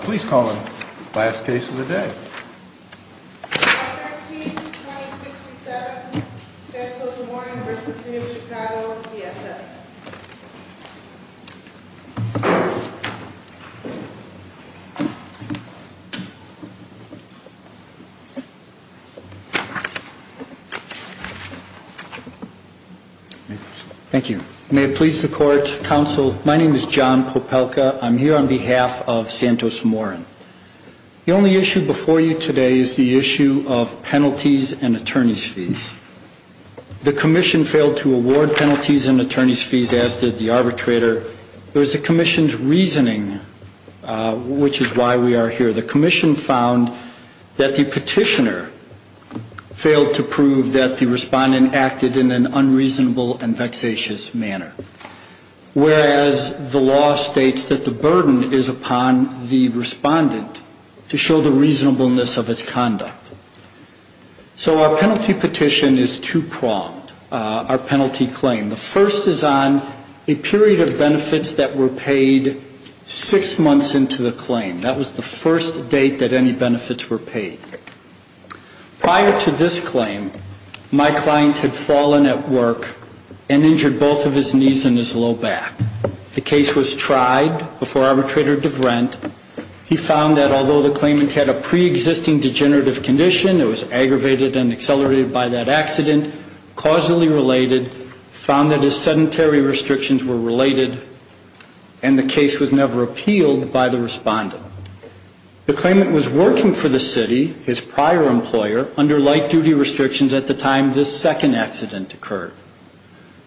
Please call the last case of the day. Thank you. May it please the court, counsel, my name is John Popelka. I'm here on behalf of Santos Morin. The only issue before you today is the issue of penalties and attorney's fees. The commission failed to award penalties and attorney's fees, as did the arbitrator. It was the commission's reasoning which is why we are here. The commission found that the petitioner failed to prove that the respondent acted in an unreasonable and unreasonable manner. The law states that the burden is upon the respondent to show the reasonableness of its conduct. So our penalty petition is two-pronged, our penalty claim. The first is on a period of benefits that were paid six months into the claim. That was the first date that any benefits were paid. Prior to that, the claimant tried before arbitrator DeVrent. He found that although the claimant had a preexisting degenerative condition, it was aggravated and accelerated by that accident, causally related, found that his sedentary restrictions were related, and the case was never appealed by the respondent. The claimant was working for the city, his prior employer, under light-duty restrictions at the time this second accident occurred.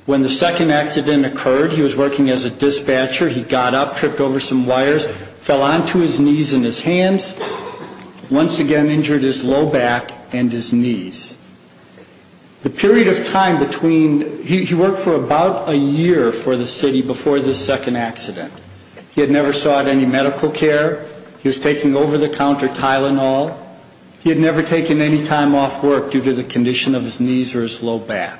When the second accident occurred, he was working as a dispatcher. He got up, tripped over some wires, fell onto his knees and his hands, once again injured his low back and his knees. The period of time between, he worked for about a year for the city before this second accident. He had never sought any medical care. He was taking over-the-counter Tylenol. He had never taken any time off work due to the condition of his knees or his low back.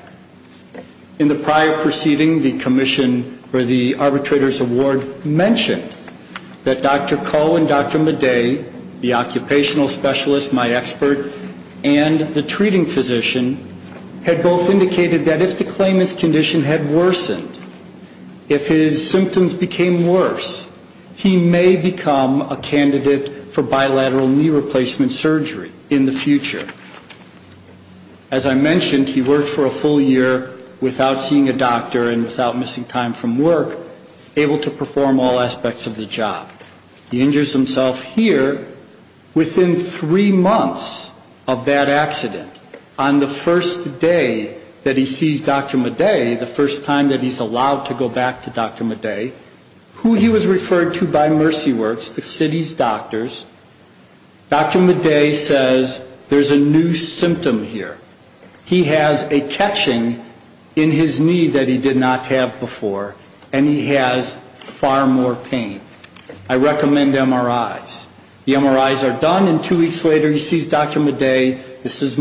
In the prior proceeding, the commission or the arbitrator's award mentioned that Dr. Koh and Dr. Madej, the occupational specialist, my expert, and the treating physician, had both indicated that if the claimant's condition had worsened, if his symptoms became worse, he may become a candidate for bilateral knee replacement surgery in the future. As I mentioned, he worked for a full year without seeing a doctor and without missing time from work, able to perform all aspects of the job. He injures himself here within three months of that accident. On the first day that he sees Dr. Madej, the first time that he's allowed to go back to Dr. Madej, who he was referred to by Mercy Works, the city's doctors, Dr. Madej says, there's a new symptom here. He has a catching in his knee that he did not have before, and he has far more pain. I recommend MRIs. The MRIs are done, and two weeks later he sees Dr. Madej. This is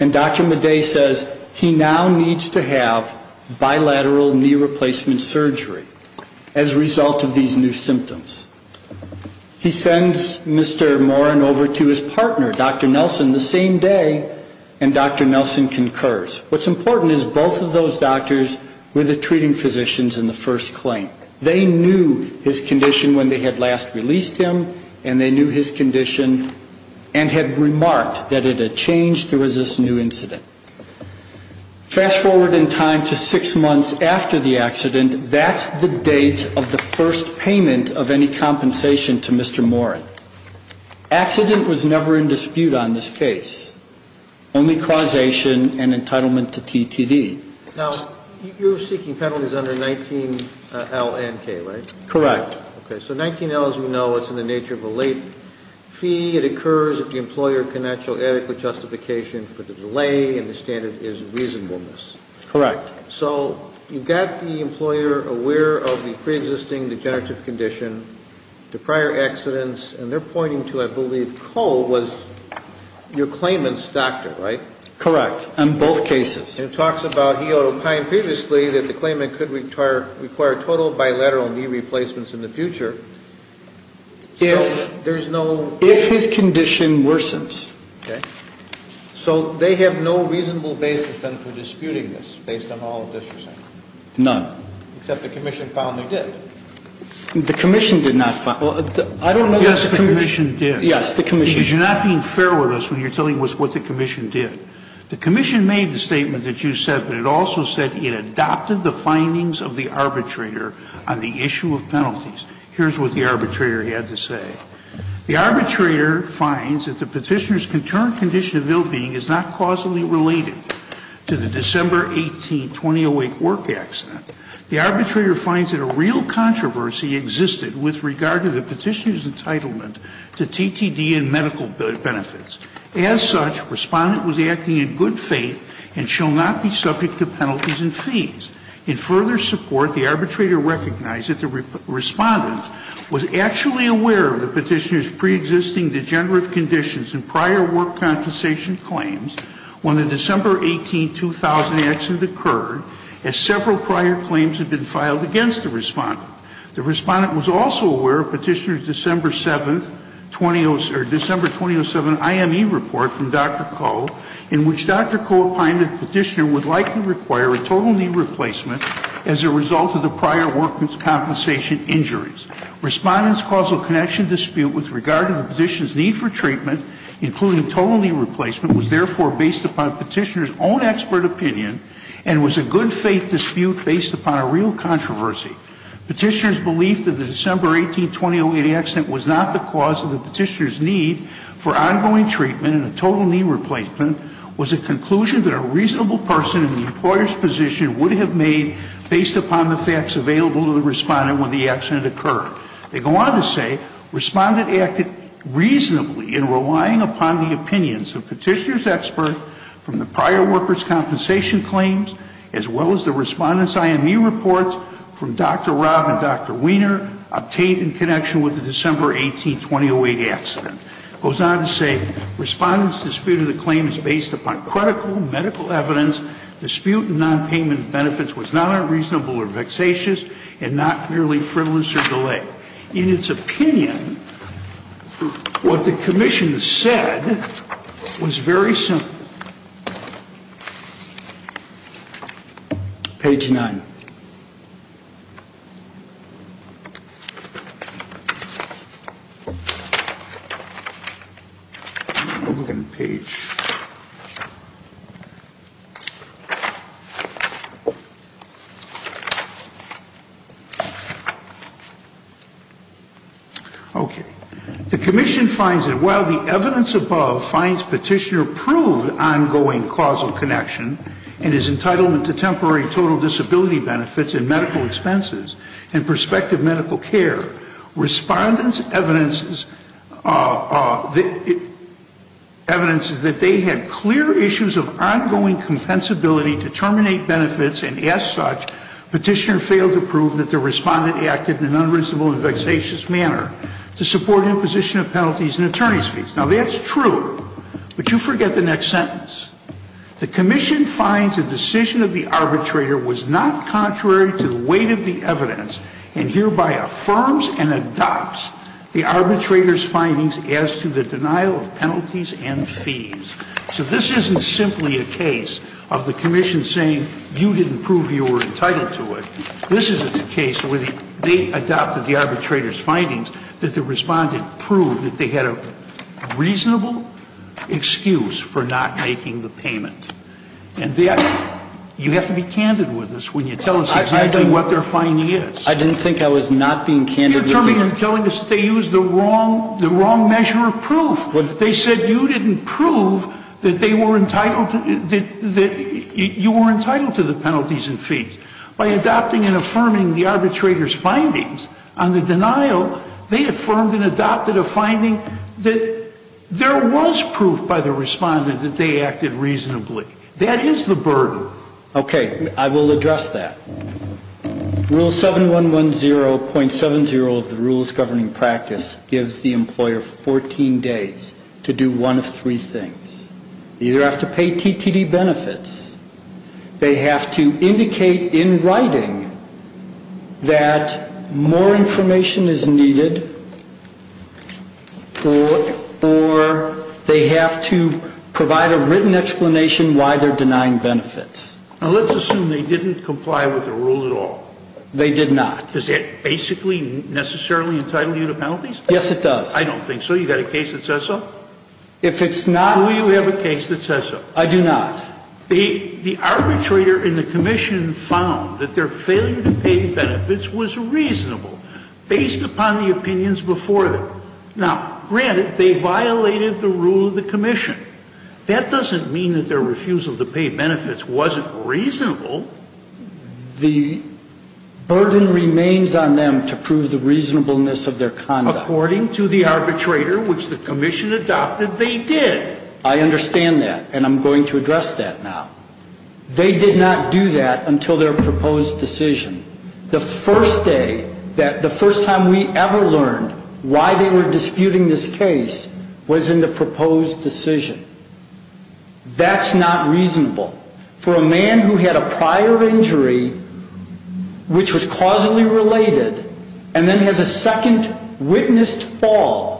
when Dr. Madej says he now needs to have bilateral knee replacement surgery as a result of these new symptoms. He sends Mr. Morin over to his partner, Dr. Nelson, the same day, and Dr. Nelson concurs. What's important is both of those doctors were the treating physicians in the first claim. They knew his condition when they had last released him, and they knew his condition and had remarked that it had changed, there was this new incident. Fast forward in time to six months after the accident, that's the date of the first payment of any compensation to Mr. Morin. Accident was never in dispute on this case, only causation and entitlement to TTD. Now, you're seeking penalties under 19L and K, right? Correct. Okay. So 19L, as we know, it's in the nature of a late fee. It occurs if the employer can not show adequate justification for the delay, and the standard is reasonableness. Correct. So you've got the employer aware of the preexisting degenerative condition to prior accidents, and they're pointing to, I believe, Cole was your claimant's doctor, right? Correct, on both cases. And it talks about Hiyoto Pine previously that the claimant could require total bilateral knee replacements in the future if there's no ---- If his condition worsens. Okay. So they have no reasonable basis then for disputing this based on all of this you're saying? None. Except the commission found they did. The commission did not ---- I don't know that the commission did. Yes, the commission did. Because you're not being fair with us when you're telling us what the commission did. The commission made the statement that you said, but it also said it adopted the findings of the arbitrator on the issue of penalties. Here's what the arbitrator had to say. The arbitrator finds that the Petitioner's concerned condition of ill-being is not causally related to the December 18, 2008 work accident. The arbitrator finds that a real controversy existed with regard to the Petitioner's entitlement to TTD and medical benefits. As such, Respondent was acting in good faith and shall not be subject to penalties and fees. In further support, the arbitrator recognized that the Respondent was actually aware of the Petitioner's preexisting degenerative conditions in prior work compensation claims when the December 18, 2000 accident occurred, as several prior claims had been filed against the Respondent. The Respondent was also aware of Petitioner's December 7th, or December 2007 IME report from Dr. Koh, in which Dr. Koh opined that Petitioner would likely require a total knee replacement as a result of the prior work compensation injuries. Respondent's causal connection dispute with regard to the Petitioner's need for treatment, including total knee replacement, was therefore based upon Petitioner's own expert opinion and was a good faith dispute based upon a real controversy. Petitioner's belief that the December 18, 2008 accident was not the cause of the Petitioner's need for ongoing treatment and a total knee replacement was a conclusion that a reasonable person in the employer's position would have made based upon the facts available to the Respondent when the accident occurred. They go on to say, Respondent acted reasonably in relying upon the opinions of Petitioner's expert from the prior worker's compensation claims as well as the Respondent's IME reports from Dr. Rob and Dr. Weiner obtained in connection with the December 18, 2008 accident. Goes on to say, Respondent's dispute of the claim is based upon critical medical evidence. Dispute in nonpayment benefits was not unreasonable or vexatious and not merely frivolous or delayed. In its opinion, what the Commission said was very simple. Page 9. Open page. Okay. The Commission finds that while the evidence above finds Petitioner proved ongoing causal connection and his entitlement to temporary total disability benefits and medical expenses and prospective medical care, Respondent's evidence is that they had clear issues of ongoing compensability to terminate benefits and as such, Petitioner failed to prove that the Respondent acted in an unreasonable and vexatious manner to support imposition of penalties and attorney's fees. Now, that's true, but you forget the next sentence. The Commission finds the decision of the arbitrator was not contrary to the weight of the evidence and hereby affirms and adopts the arbitrator's findings as to the denial of penalties and fees. So this isn't simply a case of the Commission saying you didn't prove you were entitled to the penalties and fees. This is a case where they adopted the arbitrator's findings that the Respondent proved that they had a reasonable excuse for not making the payment. And you have to be candid with us when you tell us exactly what their finding is. I didn't think I was not being candid with you. You're telling us that they used the wrong measure of proof. They said you didn't prove that they were entitled to the penalties and fees. By adopting and affirming the arbitrator's findings on the denial, they affirmed and adopted a finding that there was proof by the Respondent that they acted reasonably. That is the burden. Okay. I will address that. Rule 7110.70 of the Rules Governing Practice gives the employer 14 days to do one of three things. You either have to pay TTD benefits, they have to indicate in writing that more information is needed, or they have to provide a written explanation why they're denying benefits. Now, let's assume they didn't comply with the rule at all. They did not. Does that basically necessarily entitle you to penalties? Yes, it does. I don't think so. You've got a case that says so? If it's not ---- Do you have a case that says so? I do not. The arbitrator in the commission found that their failure to pay benefits was reasonable based upon the opinions before them. Now, granted, they violated the rule of the commission. That doesn't mean that their refusal to pay benefits wasn't reasonable. The burden remains on them to prove the reasonableness of their conduct. According to the arbitrator, which the commission adopted, they did. I understand that, and I'm going to address that now. They did not do that until their proposed decision. The first day, the first time we ever learned why they were disputing this case was in the proposed decision. That's not reasonable. For a man who had a prior injury which was causally related and then has a second witnessed fall,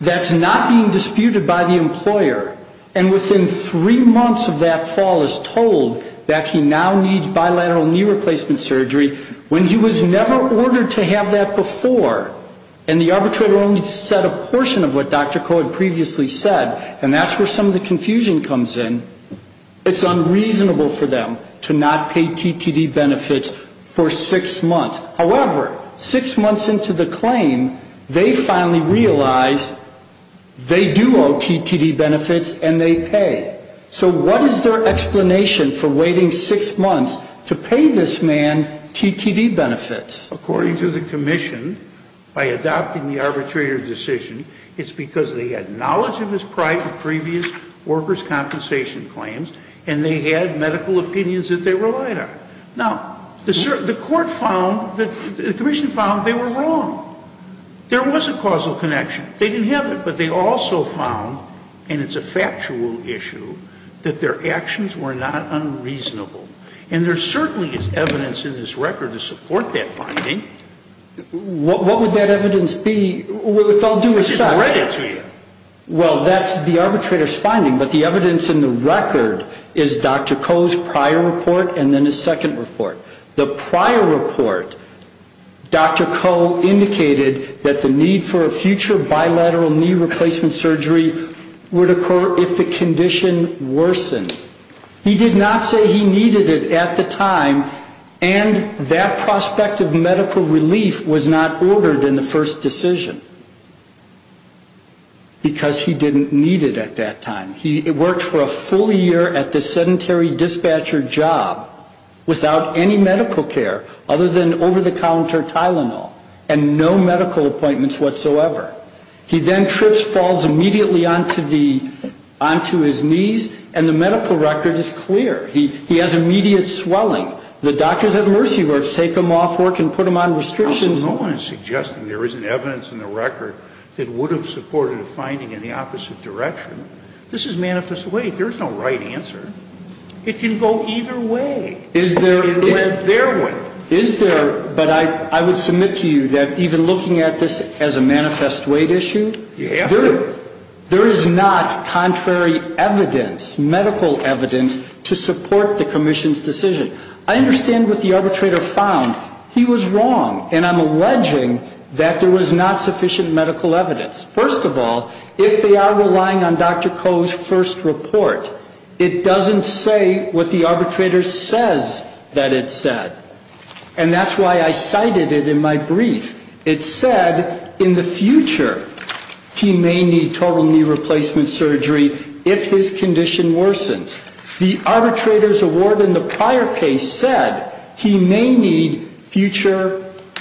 that's not being disputed by the employer, and within three months of that fall is told that he now needs bilateral knee replacement surgery, when he was never ordered to have that before, and the arbitrator only said a portion of what Dr. Koh had previously said, and that's where some of the confusion comes in, it's unreasonable for them to not pay TTD benefits for six months. However, six months into the claim, they finally realized they do owe TTD benefits and they pay. So what is their explanation for waiting six months to pay this man TTD benefits? According to the commission, by adopting the arbitrator's decision, it's because they had knowledge of his prior previous workers' compensation claims and they had medical opinions that they relied on. Now, the court found, the commission found they were wrong. There was a causal connection. They didn't have it, but they also found, and it's a factual issue, that their actions were not unreasonable. And there certainly is evidence in this record to support that finding. What would that evidence be? Well, that's the arbitrator's finding, but the evidence in the record is Dr. Koh's prior report and then his second report. The prior report, Dr. Koh indicated that the need for a future bilateral knee replacement surgery would occur if the condition worsened. He did not say he needed it at the time, and that prospect of medical relief was not ordered in the first decision because he didn't need it at that time. He worked for a full year at the sedentary dispatcher job without any medical care other than over-the-counter Tylenol and no medical appointments whatsoever. He then trips, falls immediately onto his knees, and the medical record is clear. He has immediate swelling. The doctors at Mercy Works take him off work and put him on restrictions. No one is suggesting there isn't evidence in the record that would have supported a finding in the opposite direction. This is manifest weight. There is no right answer. It can go either way. It can blend therewith. Is there, but I would submit to you that even looking at this as a manifest weight issue, there is not contrary evidence, medical evidence, to support the commission's decision. I understand what the arbitrator found. He was wrong, and I'm alleging that there was not sufficient medical evidence. First of all, if they are relying on Dr. Koh's first report, it doesn't say what the arbitrator says that it said. And that's why I cited it in my brief. It said in the future he may need total knee replacement surgery if his condition worsens. The arbitrator's award in the prior case said he may need future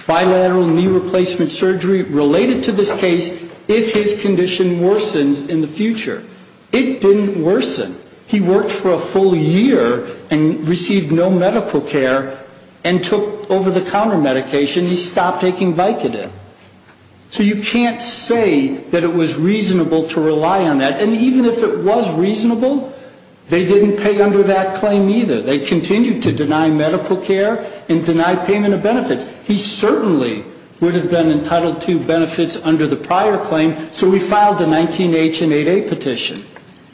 bilateral knee replacement surgery related to this case if his condition worsens in the future. It didn't worsen. He worked for a full year and received no medical care and took over-the-counter medication. He stopped taking Vicodin. So you can't say that it was reasonable to rely on that. And even if it was reasonable, they didn't pay under that claim either. They continued to deny medical care and deny payment of benefits. He certainly would have been entitled to benefits under the prior claim. So we filed a 19-H and 8-A petition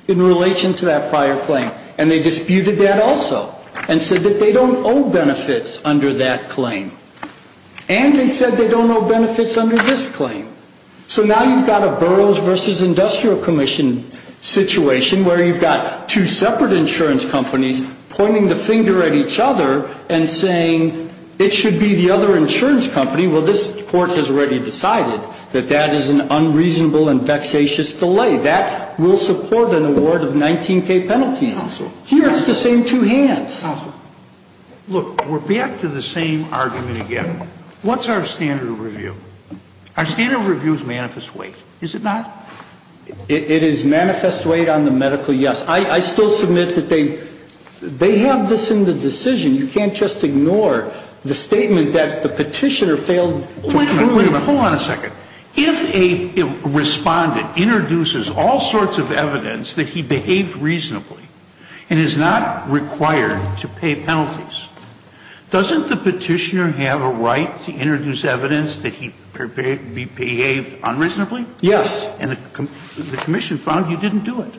in relation to that prior claim. And they disputed that also and said that they don't owe benefits under that claim. And they said they don't owe benefits under this claim. So now you've got a boroughs versus industrial commission situation where you've got two separate insurance companies pointing the finger at each other and saying it should be the other insurance company. Well, this Court has already decided that that is an unreasonable and vexatious delay. That will support an award of 19-K penalties. Here it's the same two hands. Look, we're back to the same argument again. What's our standard of review? Our standard of review is manifest weight, is it not? It is manifest weight on the medical, yes. I still submit that they have this in the decision. You can't just ignore the statement that the Petitioner failed to prove it. Wait a minute. Hold on a second. If a Respondent introduces all sorts of evidence that he behaved reasonably and is not required to pay penalties, doesn't the Petitioner have a right to introduce evidence that he behaved unreasonably? Yes. And the commission found you didn't do it.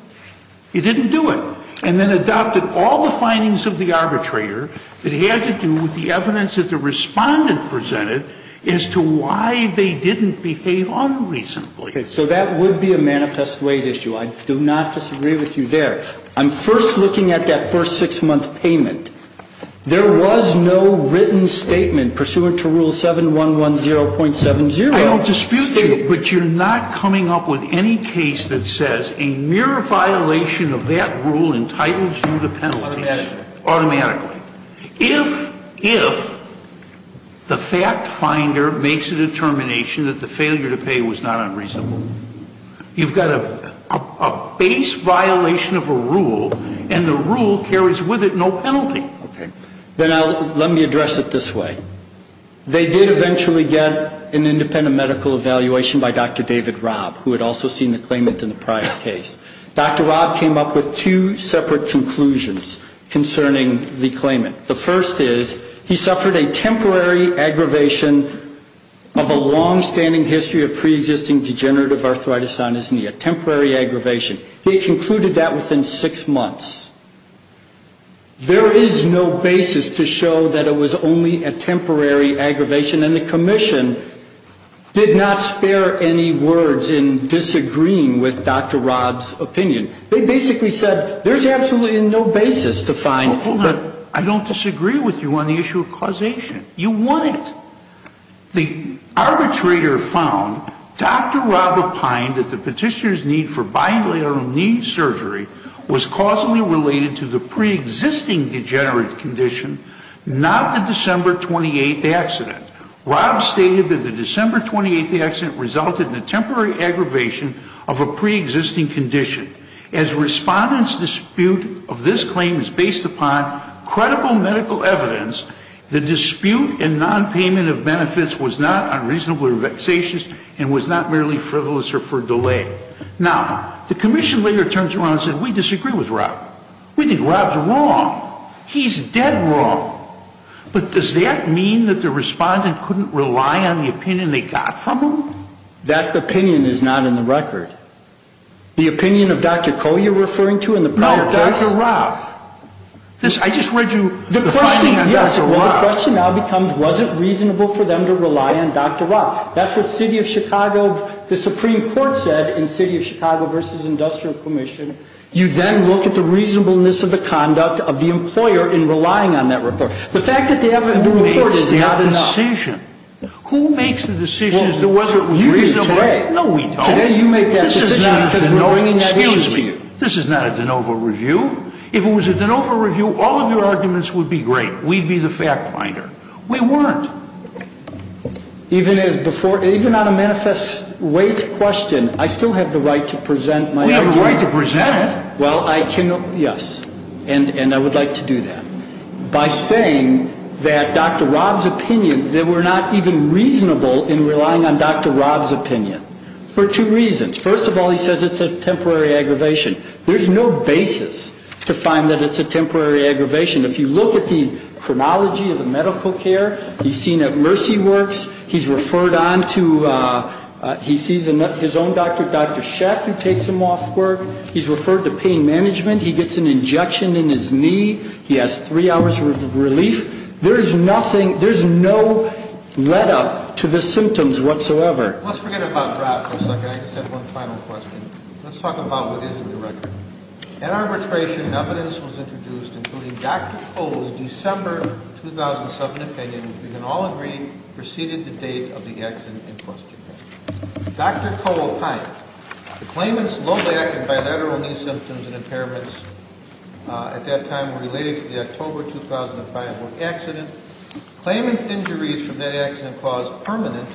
You didn't do it. And then adopted all the findings of the arbitrator that had to do with the evidence that the Respondent presented as to why they didn't behave unreasonably. So that would be a manifest weight issue. I do not disagree with you there. I'm first looking at that first 6-month payment. There was no written statement pursuant to Rule 7110.70. I don't dispute you. But you're not coming up with any case that says a mere violation of that rule entitles you to penalties? Automatically. Automatically. If the fact finder makes a determination that the failure to pay was not unreasonable, you've got a base violation of a rule, and the rule carries with it no penalty. Okay. Then let me address it this way. They did eventually get an independent medical evaluation by Dr. David Robb, who had also seen the claimant in the prior case. Dr. Robb came up with two separate conclusions concerning the claimant. The first is he suffered a temporary aggravation of a longstanding history of preexisting degenerative arthritis sinuses, a temporary aggravation. He concluded that within 6 months. There is no basis to show that it was only a temporary aggravation, and the commission did not spare any words in disagreeing with Dr. Robb's opinion. They basically said there's absolutely no basis to find. Hold on. I don't disagree with you on the issue of causation. You want it. The arbitrator found Dr. Robb opined that the petitioner's need for bilateral knee surgery was causally related to the preexisting degenerative condition, not the December 28th accident. Robb stated that the December 28th accident resulted in a temporary aggravation of a preexisting condition. As respondents' dispute of this claim is based upon credible medical evidence, the dispute in nonpayment of benefits was not unreasonably vexatious and was not merely frivolous or for delay. Now, the commission later turns around and says, we disagree with Robb. We think Robb's wrong. He's dead wrong. But does that mean that the respondent couldn't rely on the opinion they got from him? That opinion is not in the record. The opinion of Dr. Koh you're referring to in the prior case? No, Dr. Robb. I just read you the finding on Dr. Robb. The question now becomes, was it reasonable for them to rely on Dr. Robb? That's what the Supreme Court said in City of Chicago v. Industrial Commission. You then look at the reasonableness of the conduct of the employer in relying on that report. The fact that they have it in the report is not enough. Who makes the decision as to whether it was reasonable? You do today. No, we don't. Today you make that decision because we're bringing that issue to you. This is not a DeNova review. If it was a DeNova review, all of your arguments would be great. We'd be the fact finder. We weren't. Even on a manifest weight question, I still have the right to present my opinion. You have the right to present it. Well, I can, yes, and I would like to do that. By saying that Dr. Robb's opinion, that we're not even reasonable in relying on Dr. Robb's opinion for two reasons. First of all, he says it's a temporary aggravation. There's no basis to find that it's a temporary aggravation. If you look at the chronology of the medical care, he's seen at Mercy Works. He's referred on to his own doctor, Dr. Sheff, who takes him off work. He's referred to pain management. He gets an injection in his knee. He has three hours of relief. There's no lead up to the symptoms whatsoever. Let's forget about Robb for a second. I just have one final question. Let's talk about what is in the record. At arbitration, evidence was introduced, including Dr. Cole's December 2007 opinion. We can all agree it preceded the date of the accident in question. Dr. Cole opined the claimant's low back and bilateral knee symptoms and impairments at that time related to the October 2005 accident. Claimant's injuries from that accident caused permanent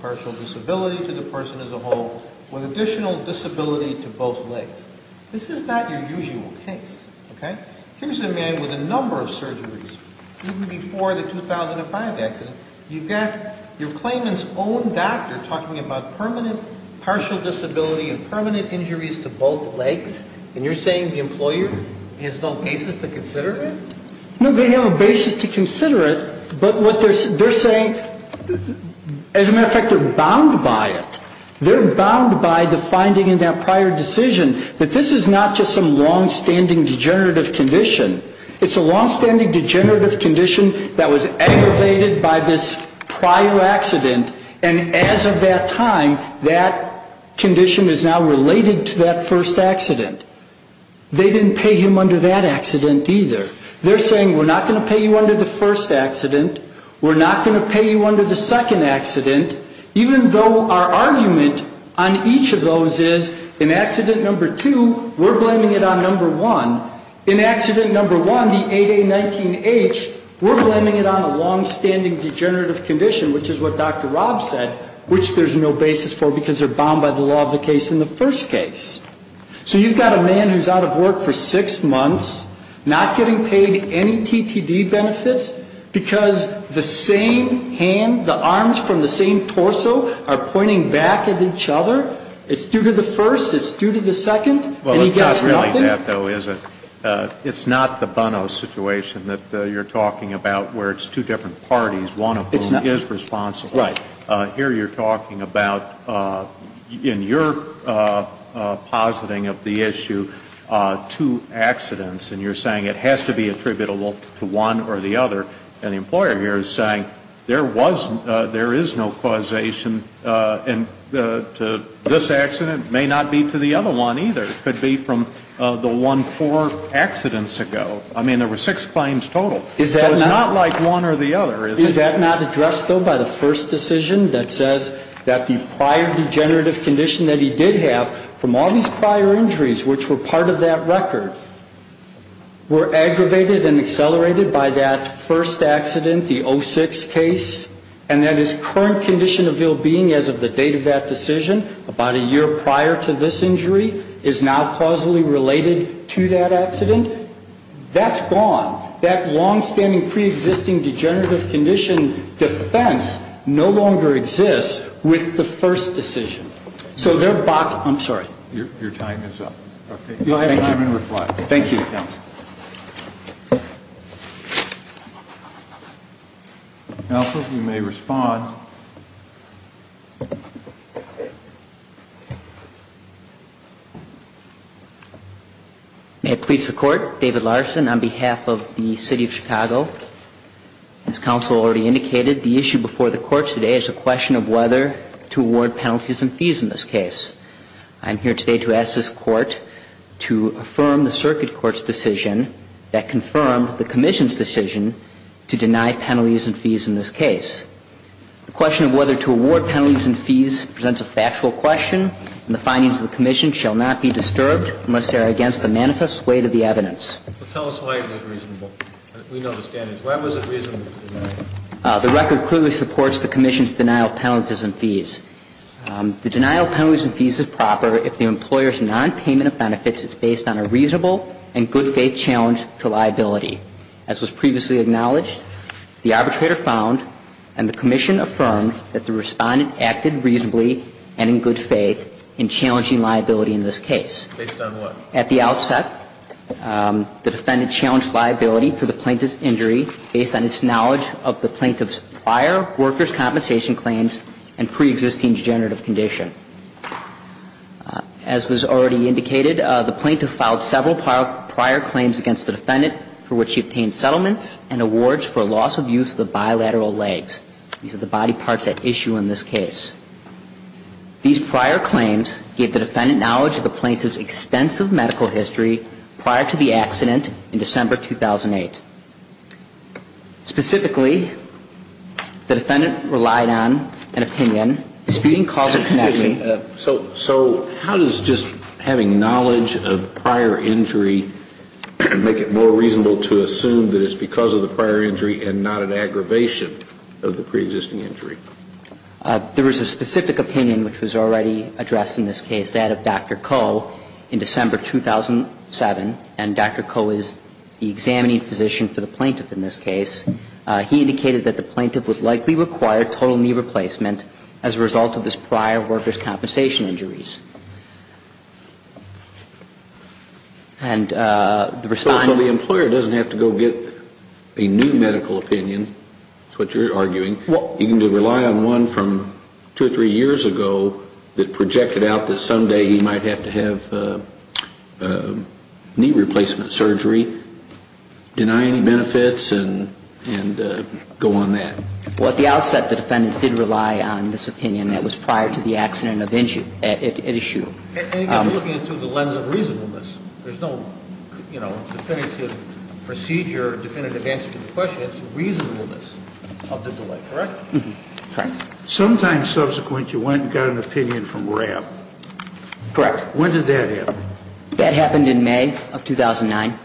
partial disability to the person as a whole with additional disability to both legs. This is not your usual case, okay? Here's a man with a number of surgeries even before the 2005 accident. You've got your claimant's own doctor talking about permanent partial disability and permanent injuries to both legs, and you're saying the employer has no basis to consider it? No, they have a basis to consider it, but what they're saying, as a matter of fact, they're bound by it. They're bound by the finding in that prior decision that this is not just some longstanding degenerative condition. It's a longstanding degenerative condition that was aggravated by this prior accident, and as of that time, that condition is now related to that first accident. They didn't pay him under that accident either. They're saying we're not going to pay you under the first accident, we're not going to pay you under the second accident, even though our argument on each of those is in accident number two, we're blaming it on number one. In accident number one, the 8A19H, we're blaming it on a longstanding degenerative condition, which is what Dr. Rob said, which there's no basis for because they're bound by the law of the case in the first case. So you've got a man who's out of work for six months, not getting paid any TTD benefits, because the same hand, the arms from the same torso are pointing back at each other. It's due to the first, it's due to the second, and he gets nothing? Well, it's not really that, though, is it? It's not the Bono situation that you're talking about, where it's two different parties, one of whom is responsible. Right. Here you're talking about, in your positing of the issue, two accidents, and you're saying it has to be attributable to one or the other, and the employer here is saying there was, there is no causation to this accident, may not be to the other one either. It could be from the one, four accidents ago. I mean, there were six claims total. Is that not addressed, though, by the first decision that says that the prior degenerative condition that he did have from all these prior injuries, which were part of that record, were aggravated and accelerated by that first accident, the 06 case, and that his current condition of ill-being as of the date of that decision, about a year prior to this injury, is now causally related to that accident? That's gone. That long-standing, pre-existing degenerative condition defense no longer exists with the first decision. So they're back. I'm sorry. Your time is up. I'm in reply. Thank you. Counsel, you may respond. May it please the Court. David Larson on behalf of the City of Chicago. As counsel already indicated, the issue before the Court today is a question of whether to award penalties and fees in this case. I'm here today to ask this Court to affirm the circuit court's decision that confirmed the commission's decision to deny penalties and fees in this case. The question of whether to award penalties and fees presents a factual question, and the findings of the commission shall not be disturbed unless they are against the manifest weight of the evidence. Tell us why it was reasonable. We know the standings. Why was it reasonable to deny? The record clearly supports the commission's denial of penalties and fees. The denial of penalties and fees is proper if the employer's nonpayment of benefits is based on a reasonable and good-faith challenge to liability. As was previously acknowledged, the arbitrator found and the commission affirmed that the respondent acted reasonably and in good faith in challenging liability in this case. Based on what? At the outset, the defendant challenged liability for the plaintiff's injury based on its knowledge of the plaintiff's prior workers' compensation claims and preexisting degenerative condition. The plaintiff's claim was that the plaintiff had a prior client for which he obtained settlements and awards for loss of use of the bilateral legs. These are the body parts at issue in this case. These prior claims gave the defendant knowledge of the plaintiff's extensive medical history prior to the accident in December 2008. Specifically, the defendant relied on an opinion disputing causal connection Excuse me. So how does just having knowledge of prior injury make it more reasonable to assume that it's because of the prior injury and not an aggravation of the preexisting injury? There was a specific opinion which was already addressed in this case, that of Dr. Coe, the examining physician for the plaintiff in this case. He indicated that the plaintiff would likely require total knee replacement as a result of his prior workers' compensation injuries. And the respondent So the employer doesn't have to go get a new medical opinion, is what you're arguing. You can rely on one from two or three years ago that projected out that someday he might have to have knee replacement surgery. Deny any benefits and go on that. Well, at the outset the defendant did rely on this opinion that was prior to the accident at issue. And you've got to look at it through the lens of reasonableness. There's no definitive procedure, definitive answer to the question. It's reasonableness of the delay, correct? Correct. Sometimes subsequent you went and got an opinion from RAB. Correct. When did that happen? That happened in May of 2009.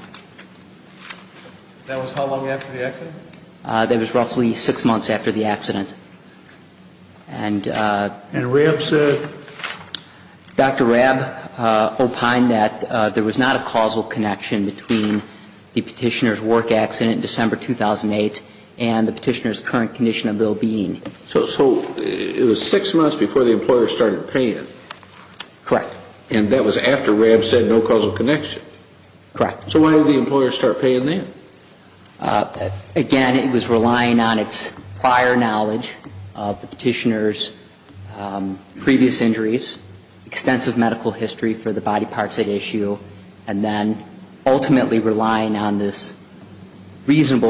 That was how long after the accident? That was roughly six months after the accident. And RAB said? Dr. RAB opined that there was not a causal connection between the petitioner's work accident in December 2008 and the petitioner's current condition of well-being. So it was six months before the employer started paying? Correct. And that was after RAB said no causal connection? Correct. So why did the employer start paying then? Again, it was relying on its prior knowledge of the petitioner's previous injuries, extensive medical history for the body parts at issue, and then ultimately relying on this opinion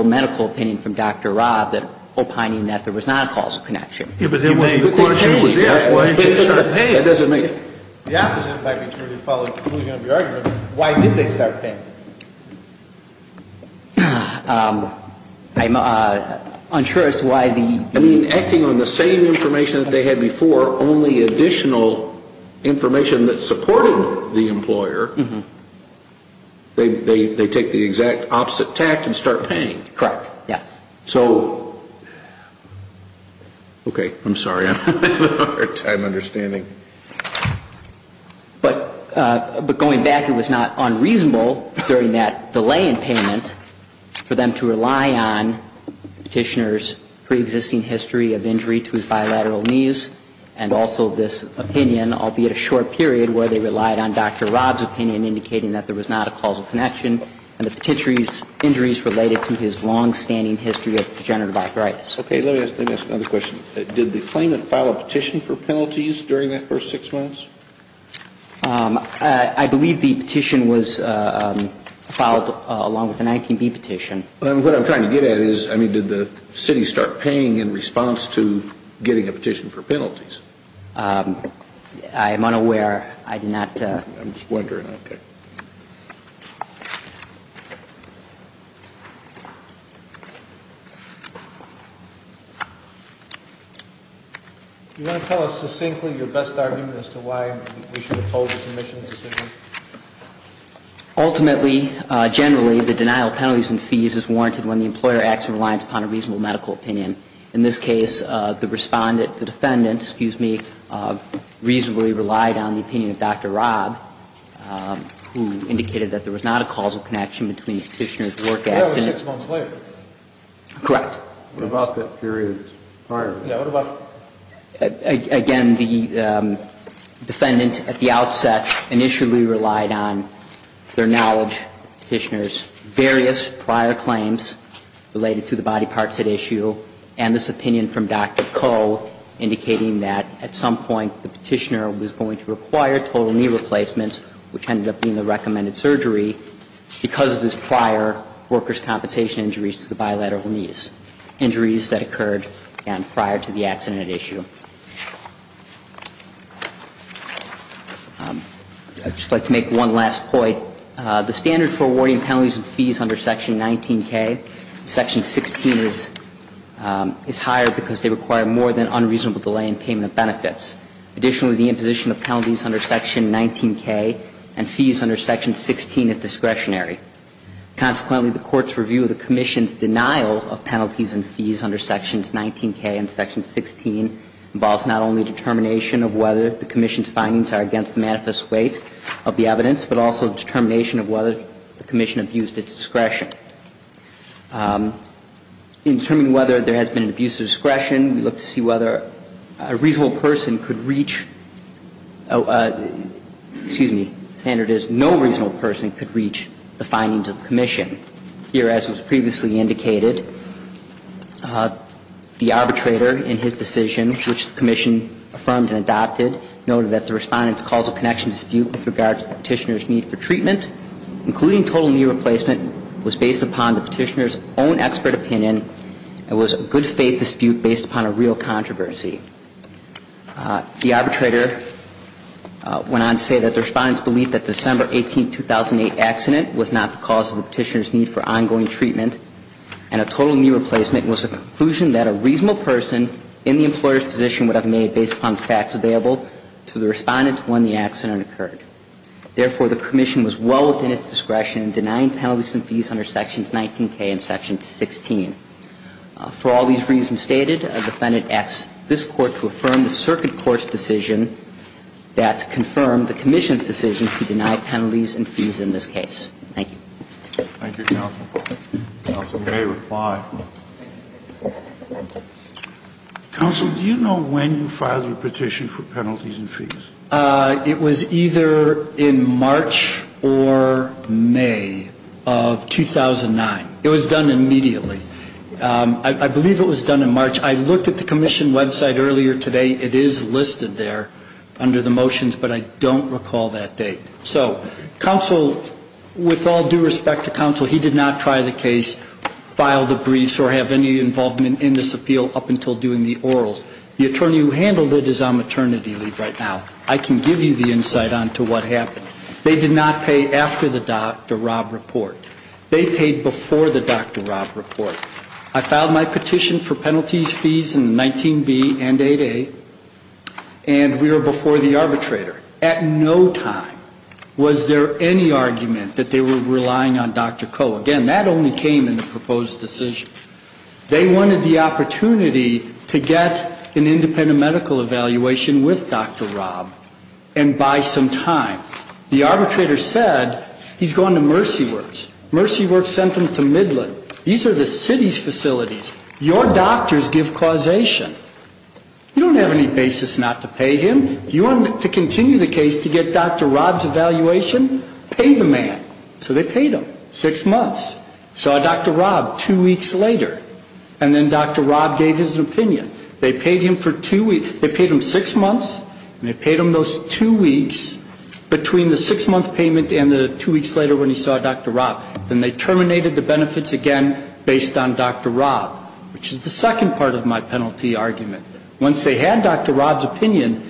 that there was not a causal connection. If it was in May of 2008, why did they start paying? The opposite might be true to the conclusion of your argument. Why did they start paying? I'm unsure as to why the ---- I mean, acting on the same information that they had before, only additional information that supported the employer, they take the exact opposite tact and start paying. Correct, yes. So ---- Okay. I'm sorry. I don't have a hard time understanding. But going back, it was not unreasonable during that delay in payment for them to rely on the petitioner's preexisting history of injury to his bilateral knees and also this opinion, albeit a short period, where they relied on Dr. Robb's opinion indicating that there was not a causal connection and the petitioner's injuries related to his longstanding history of degenerative arthritis. Okay. Let me ask another question. Did the claimant file a petition for penalties during that first 6 months? I believe the petition was filed along with the 19B petition. What I'm trying to get at is, I mean, did the city start paying in response to getting a petition for penalties? I am unaware. I do not ---- I'm just wondering, okay. Do you want to tell us succinctly your best argument as to why we should oppose the Commission's decision? Ultimately, generally, the denial of penalties and fees is warranted when the employer acts in reliance upon a reasonable medical opinion. In this case, the Respondent, the Defendant, excuse me, reasonably relied on the opinion of Dr. Robb, who indicated that there was not a causal connection between the petitioner's work accident. Correct. What about that period prior? Again, the Defendant at the outset initially relied on their knowledge of the petitioner's various prior claims related to the body parts at issue and this opinion from Dr. Coe indicating that at some point the petitioner was going to require total knee replacements, which ended up being the recommended surgery, because of his prior workers' compensation injuries to the bilateral knees, injuries that occurred prior to the accident at issue. I would just like to make one last point. The standard for awarding penalties and fees under Section 19K, Section 16 is higher because they require more than unreasonable delay in payment of benefits. Additionally, the imposition of penalties under Section 19K and fees under Section 16 is discretionary. Consequently, the Court's review of the Commission's denial of penalties and fees under Sections 19K and Section 16 involves not only determination of whether the Commission's findings are against the manifest weight of the evidence, but also determination of whether the Commission abused its discretion. In determining whether there has been an abuse of discretion, we look to see whether a reasonable person could reach, excuse me, standard is no reasonable person could reach the findings of the Commission. Here, as was previously indicated, the arbitrator in his decision, which the Commission affirmed and adopted, noted that the Respondent's causal connection dispute with regards to the petitioner's need for treatment, including total knee replacement, was basically based upon the petitioner's own expert opinion. It was a good faith dispute based upon a real controversy. The arbitrator went on to say that the Respondent's belief that the December 18, 2008 accident was not the cause of the petitioner's need for ongoing treatment and a total knee replacement was a conclusion that a reasonable person in the employer's position would have made based upon the facts available to the Respondent when the accident occurred. Therefore, the Commission was well within its discretion in denying penalties and fees under sections 19K and section 16. For all these reasons stated, a defendant asks this Court to affirm the circuit court's decision that confirmed the Commission's decision to deny penalties and fees in this case. Thank you. Thank you, counsel. Counsel may reply. Counsel, do you know when you filed your petition for penalties and fees? It was either in March or May of 2009. It was done immediately. I believe it was done in March. I looked at the Commission website earlier today. It is listed there under the motions, but I don't recall that date. So counsel, with all due respect to counsel, he did not try the case, file the briefs, or have any involvement in this appeal up until doing the orals. The attorney who handled it is on maternity leave right now. I can give you the insight on to what happened. They did not pay after the Dr. Robb report. They paid before the Dr. Robb report. I filed my petition for penalties, fees in 19B and 8A, and we were before the arbitrator. At no time was there any argument that they were relying on Dr. Coe. Again, that only came in the proposed decision. They wanted the opportunity to get an independent medical evaluation with Dr. Robb and buy some time. The arbitrator said he's gone to Mercy Works. Mercy Works sent him to Midland. These are the city's facilities. Your doctors give causation. You don't have any basis not to pay him. If you wanted to continue the case to get Dr. Robb's evaluation, pay the man. So they paid him, six months. Saw Dr. Robb two weeks later, and then Dr. Robb gave his opinion. They paid him for two weeks. They paid him six months, and they paid him those two weeks between the six-month payment and the two weeks later when he saw Dr. Robb. Then they terminated the benefits again based on Dr. Robb, which is the second part of my penalty argument. Once they had Dr. Robb's opinion,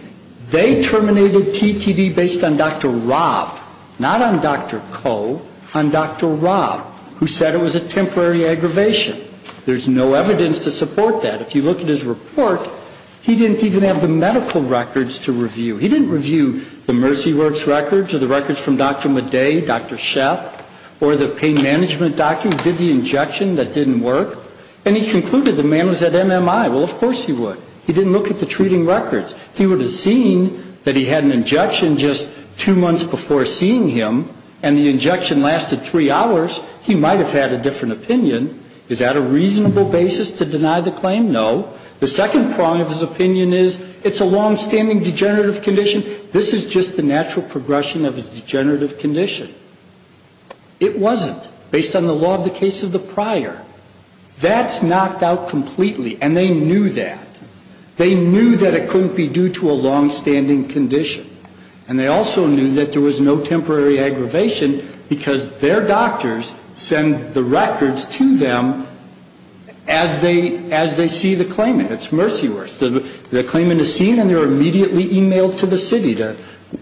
they terminated TTD based on Dr. Robb, not on Dr. Coe, on Dr. Robb, who said it was a temporary aggravation. There's no evidence to support that. If you look at his report, he didn't even have the medical records to review. He didn't review the Mercy Works records or the records from Dr. Madej, Dr. Sheff, or the pain management doctor who did the injection that didn't work. And he concluded the man was at MMI. Well, of course he would. He didn't look at the treating records. If he would have seen that he had an injection just two months before seeing him, and the injection lasted three hours, he might have had a different opinion. Is that a reasonable basis to deny the claim? No. The second prong of his opinion is it's a longstanding degenerative condition. This is just the natural progression of his degenerative condition. It wasn't, based on the law of the case of the prior. That's knocked out completely, and they knew that. They knew that it couldn't be due to a longstanding condition. And they also knew that there was no temporary aggravation because their doctors send the records to them as they see the claimant. It's Mercy Works. The claimant is seen, and they're immediately emailed to the city, to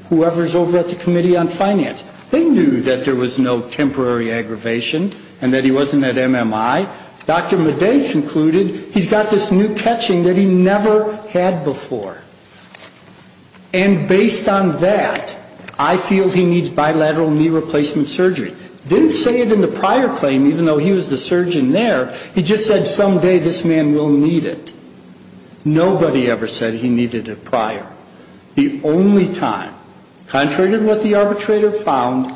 whoever's over at the Committee on Finance. They knew that there was no temporary aggravation and that he wasn't at MMI. Dr. Madej concluded he's got this new catching that he never had before. And based on that, I feel he needs bilateral knee replacement surgery. Didn't say it in the prior claim, even though he was the surgeon there. He just said someday this man will need it. Nobody ever said he needed it prior. The only time, contrary to what the arbitrator found,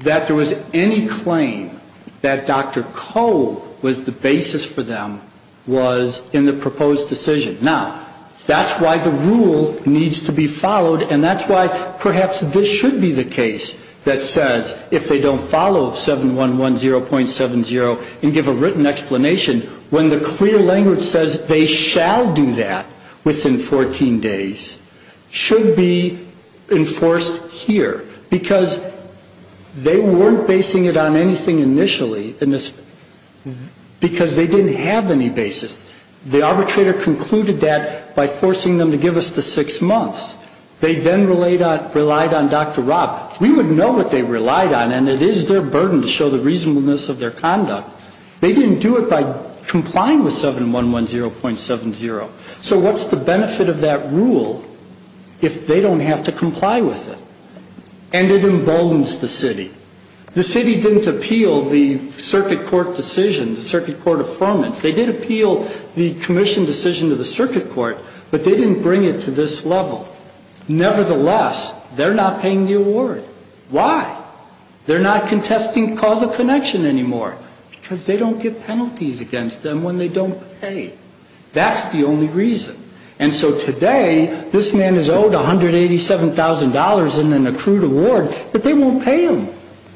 that there was any claim that Dr. Coe was the basis for them was in the proposed decision. Now, that's why the rule needs to be followed, and that's why perhaps this should be the case that says, if they don't follow 7110.70 and give a written explanation, when the clear language says they shall do that within 14 days, should be enforced here. Because they weren't basing it on anything initially, because they didn't have any basis. The arbitrator concluded that by forcing them to give us the six months. They then relied on Dr. Rob. We would know what they relied on, and it is their burden to show the reasonableness of their conduct. They didn't do it by complying with 7110.70. So what's the benefit of that rule if they don't have to comply with it? And it emboldens the city. The city didn't appeal the circuit court decision, the circuit court affirmance. They did appeal the commission decision to the circuit court, but they didn't bring it to this level. Nevertheless, they're not paying the award. Why? They're not contesting causal connection anymore, because they don't get penalties against them when they don't pay. That's the only reason. And so today, this man is owed $187,000 in an accrued award, but they won't pay him.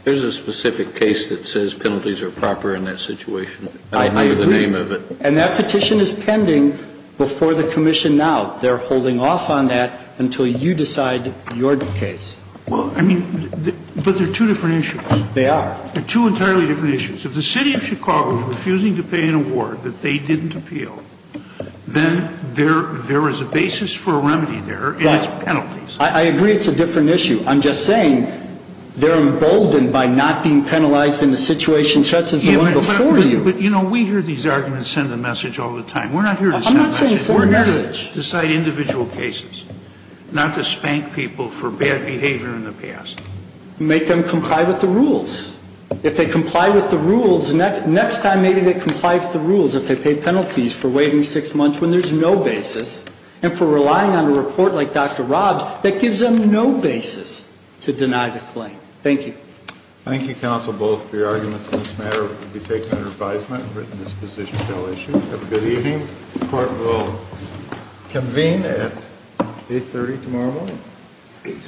There's a specific case that says penalties are proper in that situation. I don't remember the name of it. I agree. And that petition is pending before the commission now. They're holding off on that until you decide your case. Well, I mean, but they're two different issues. They are. They're two entirely different issues. If the City of Chicago is refusing to pay an award that they didn't appeal, then there is a basis for a remedy there, and it's penalties. I agree it's a different issue. I'm just saying they're emboldened by not being penalized in a situation such as the one before you. But, you know, we hear these arguments send a message all the time. We're not here to send a message. I'm not saying send a message. We're here to decide individual cases, not to spank people for bad behavior in the past. Make them comply with the rules. If they comply with the rules, next time maybe they comply with the rules if they pay penalties for waiting six months when there's no basis, and for relying on a report like Dr. Robb's that gives them no basis to deny the claim. Thank you. Thank you, counsel, both for your arguments. This matter will be taken under advisement and written disposition until issued. Have a good evening. The court will convene at 8.30 tomorrow morning.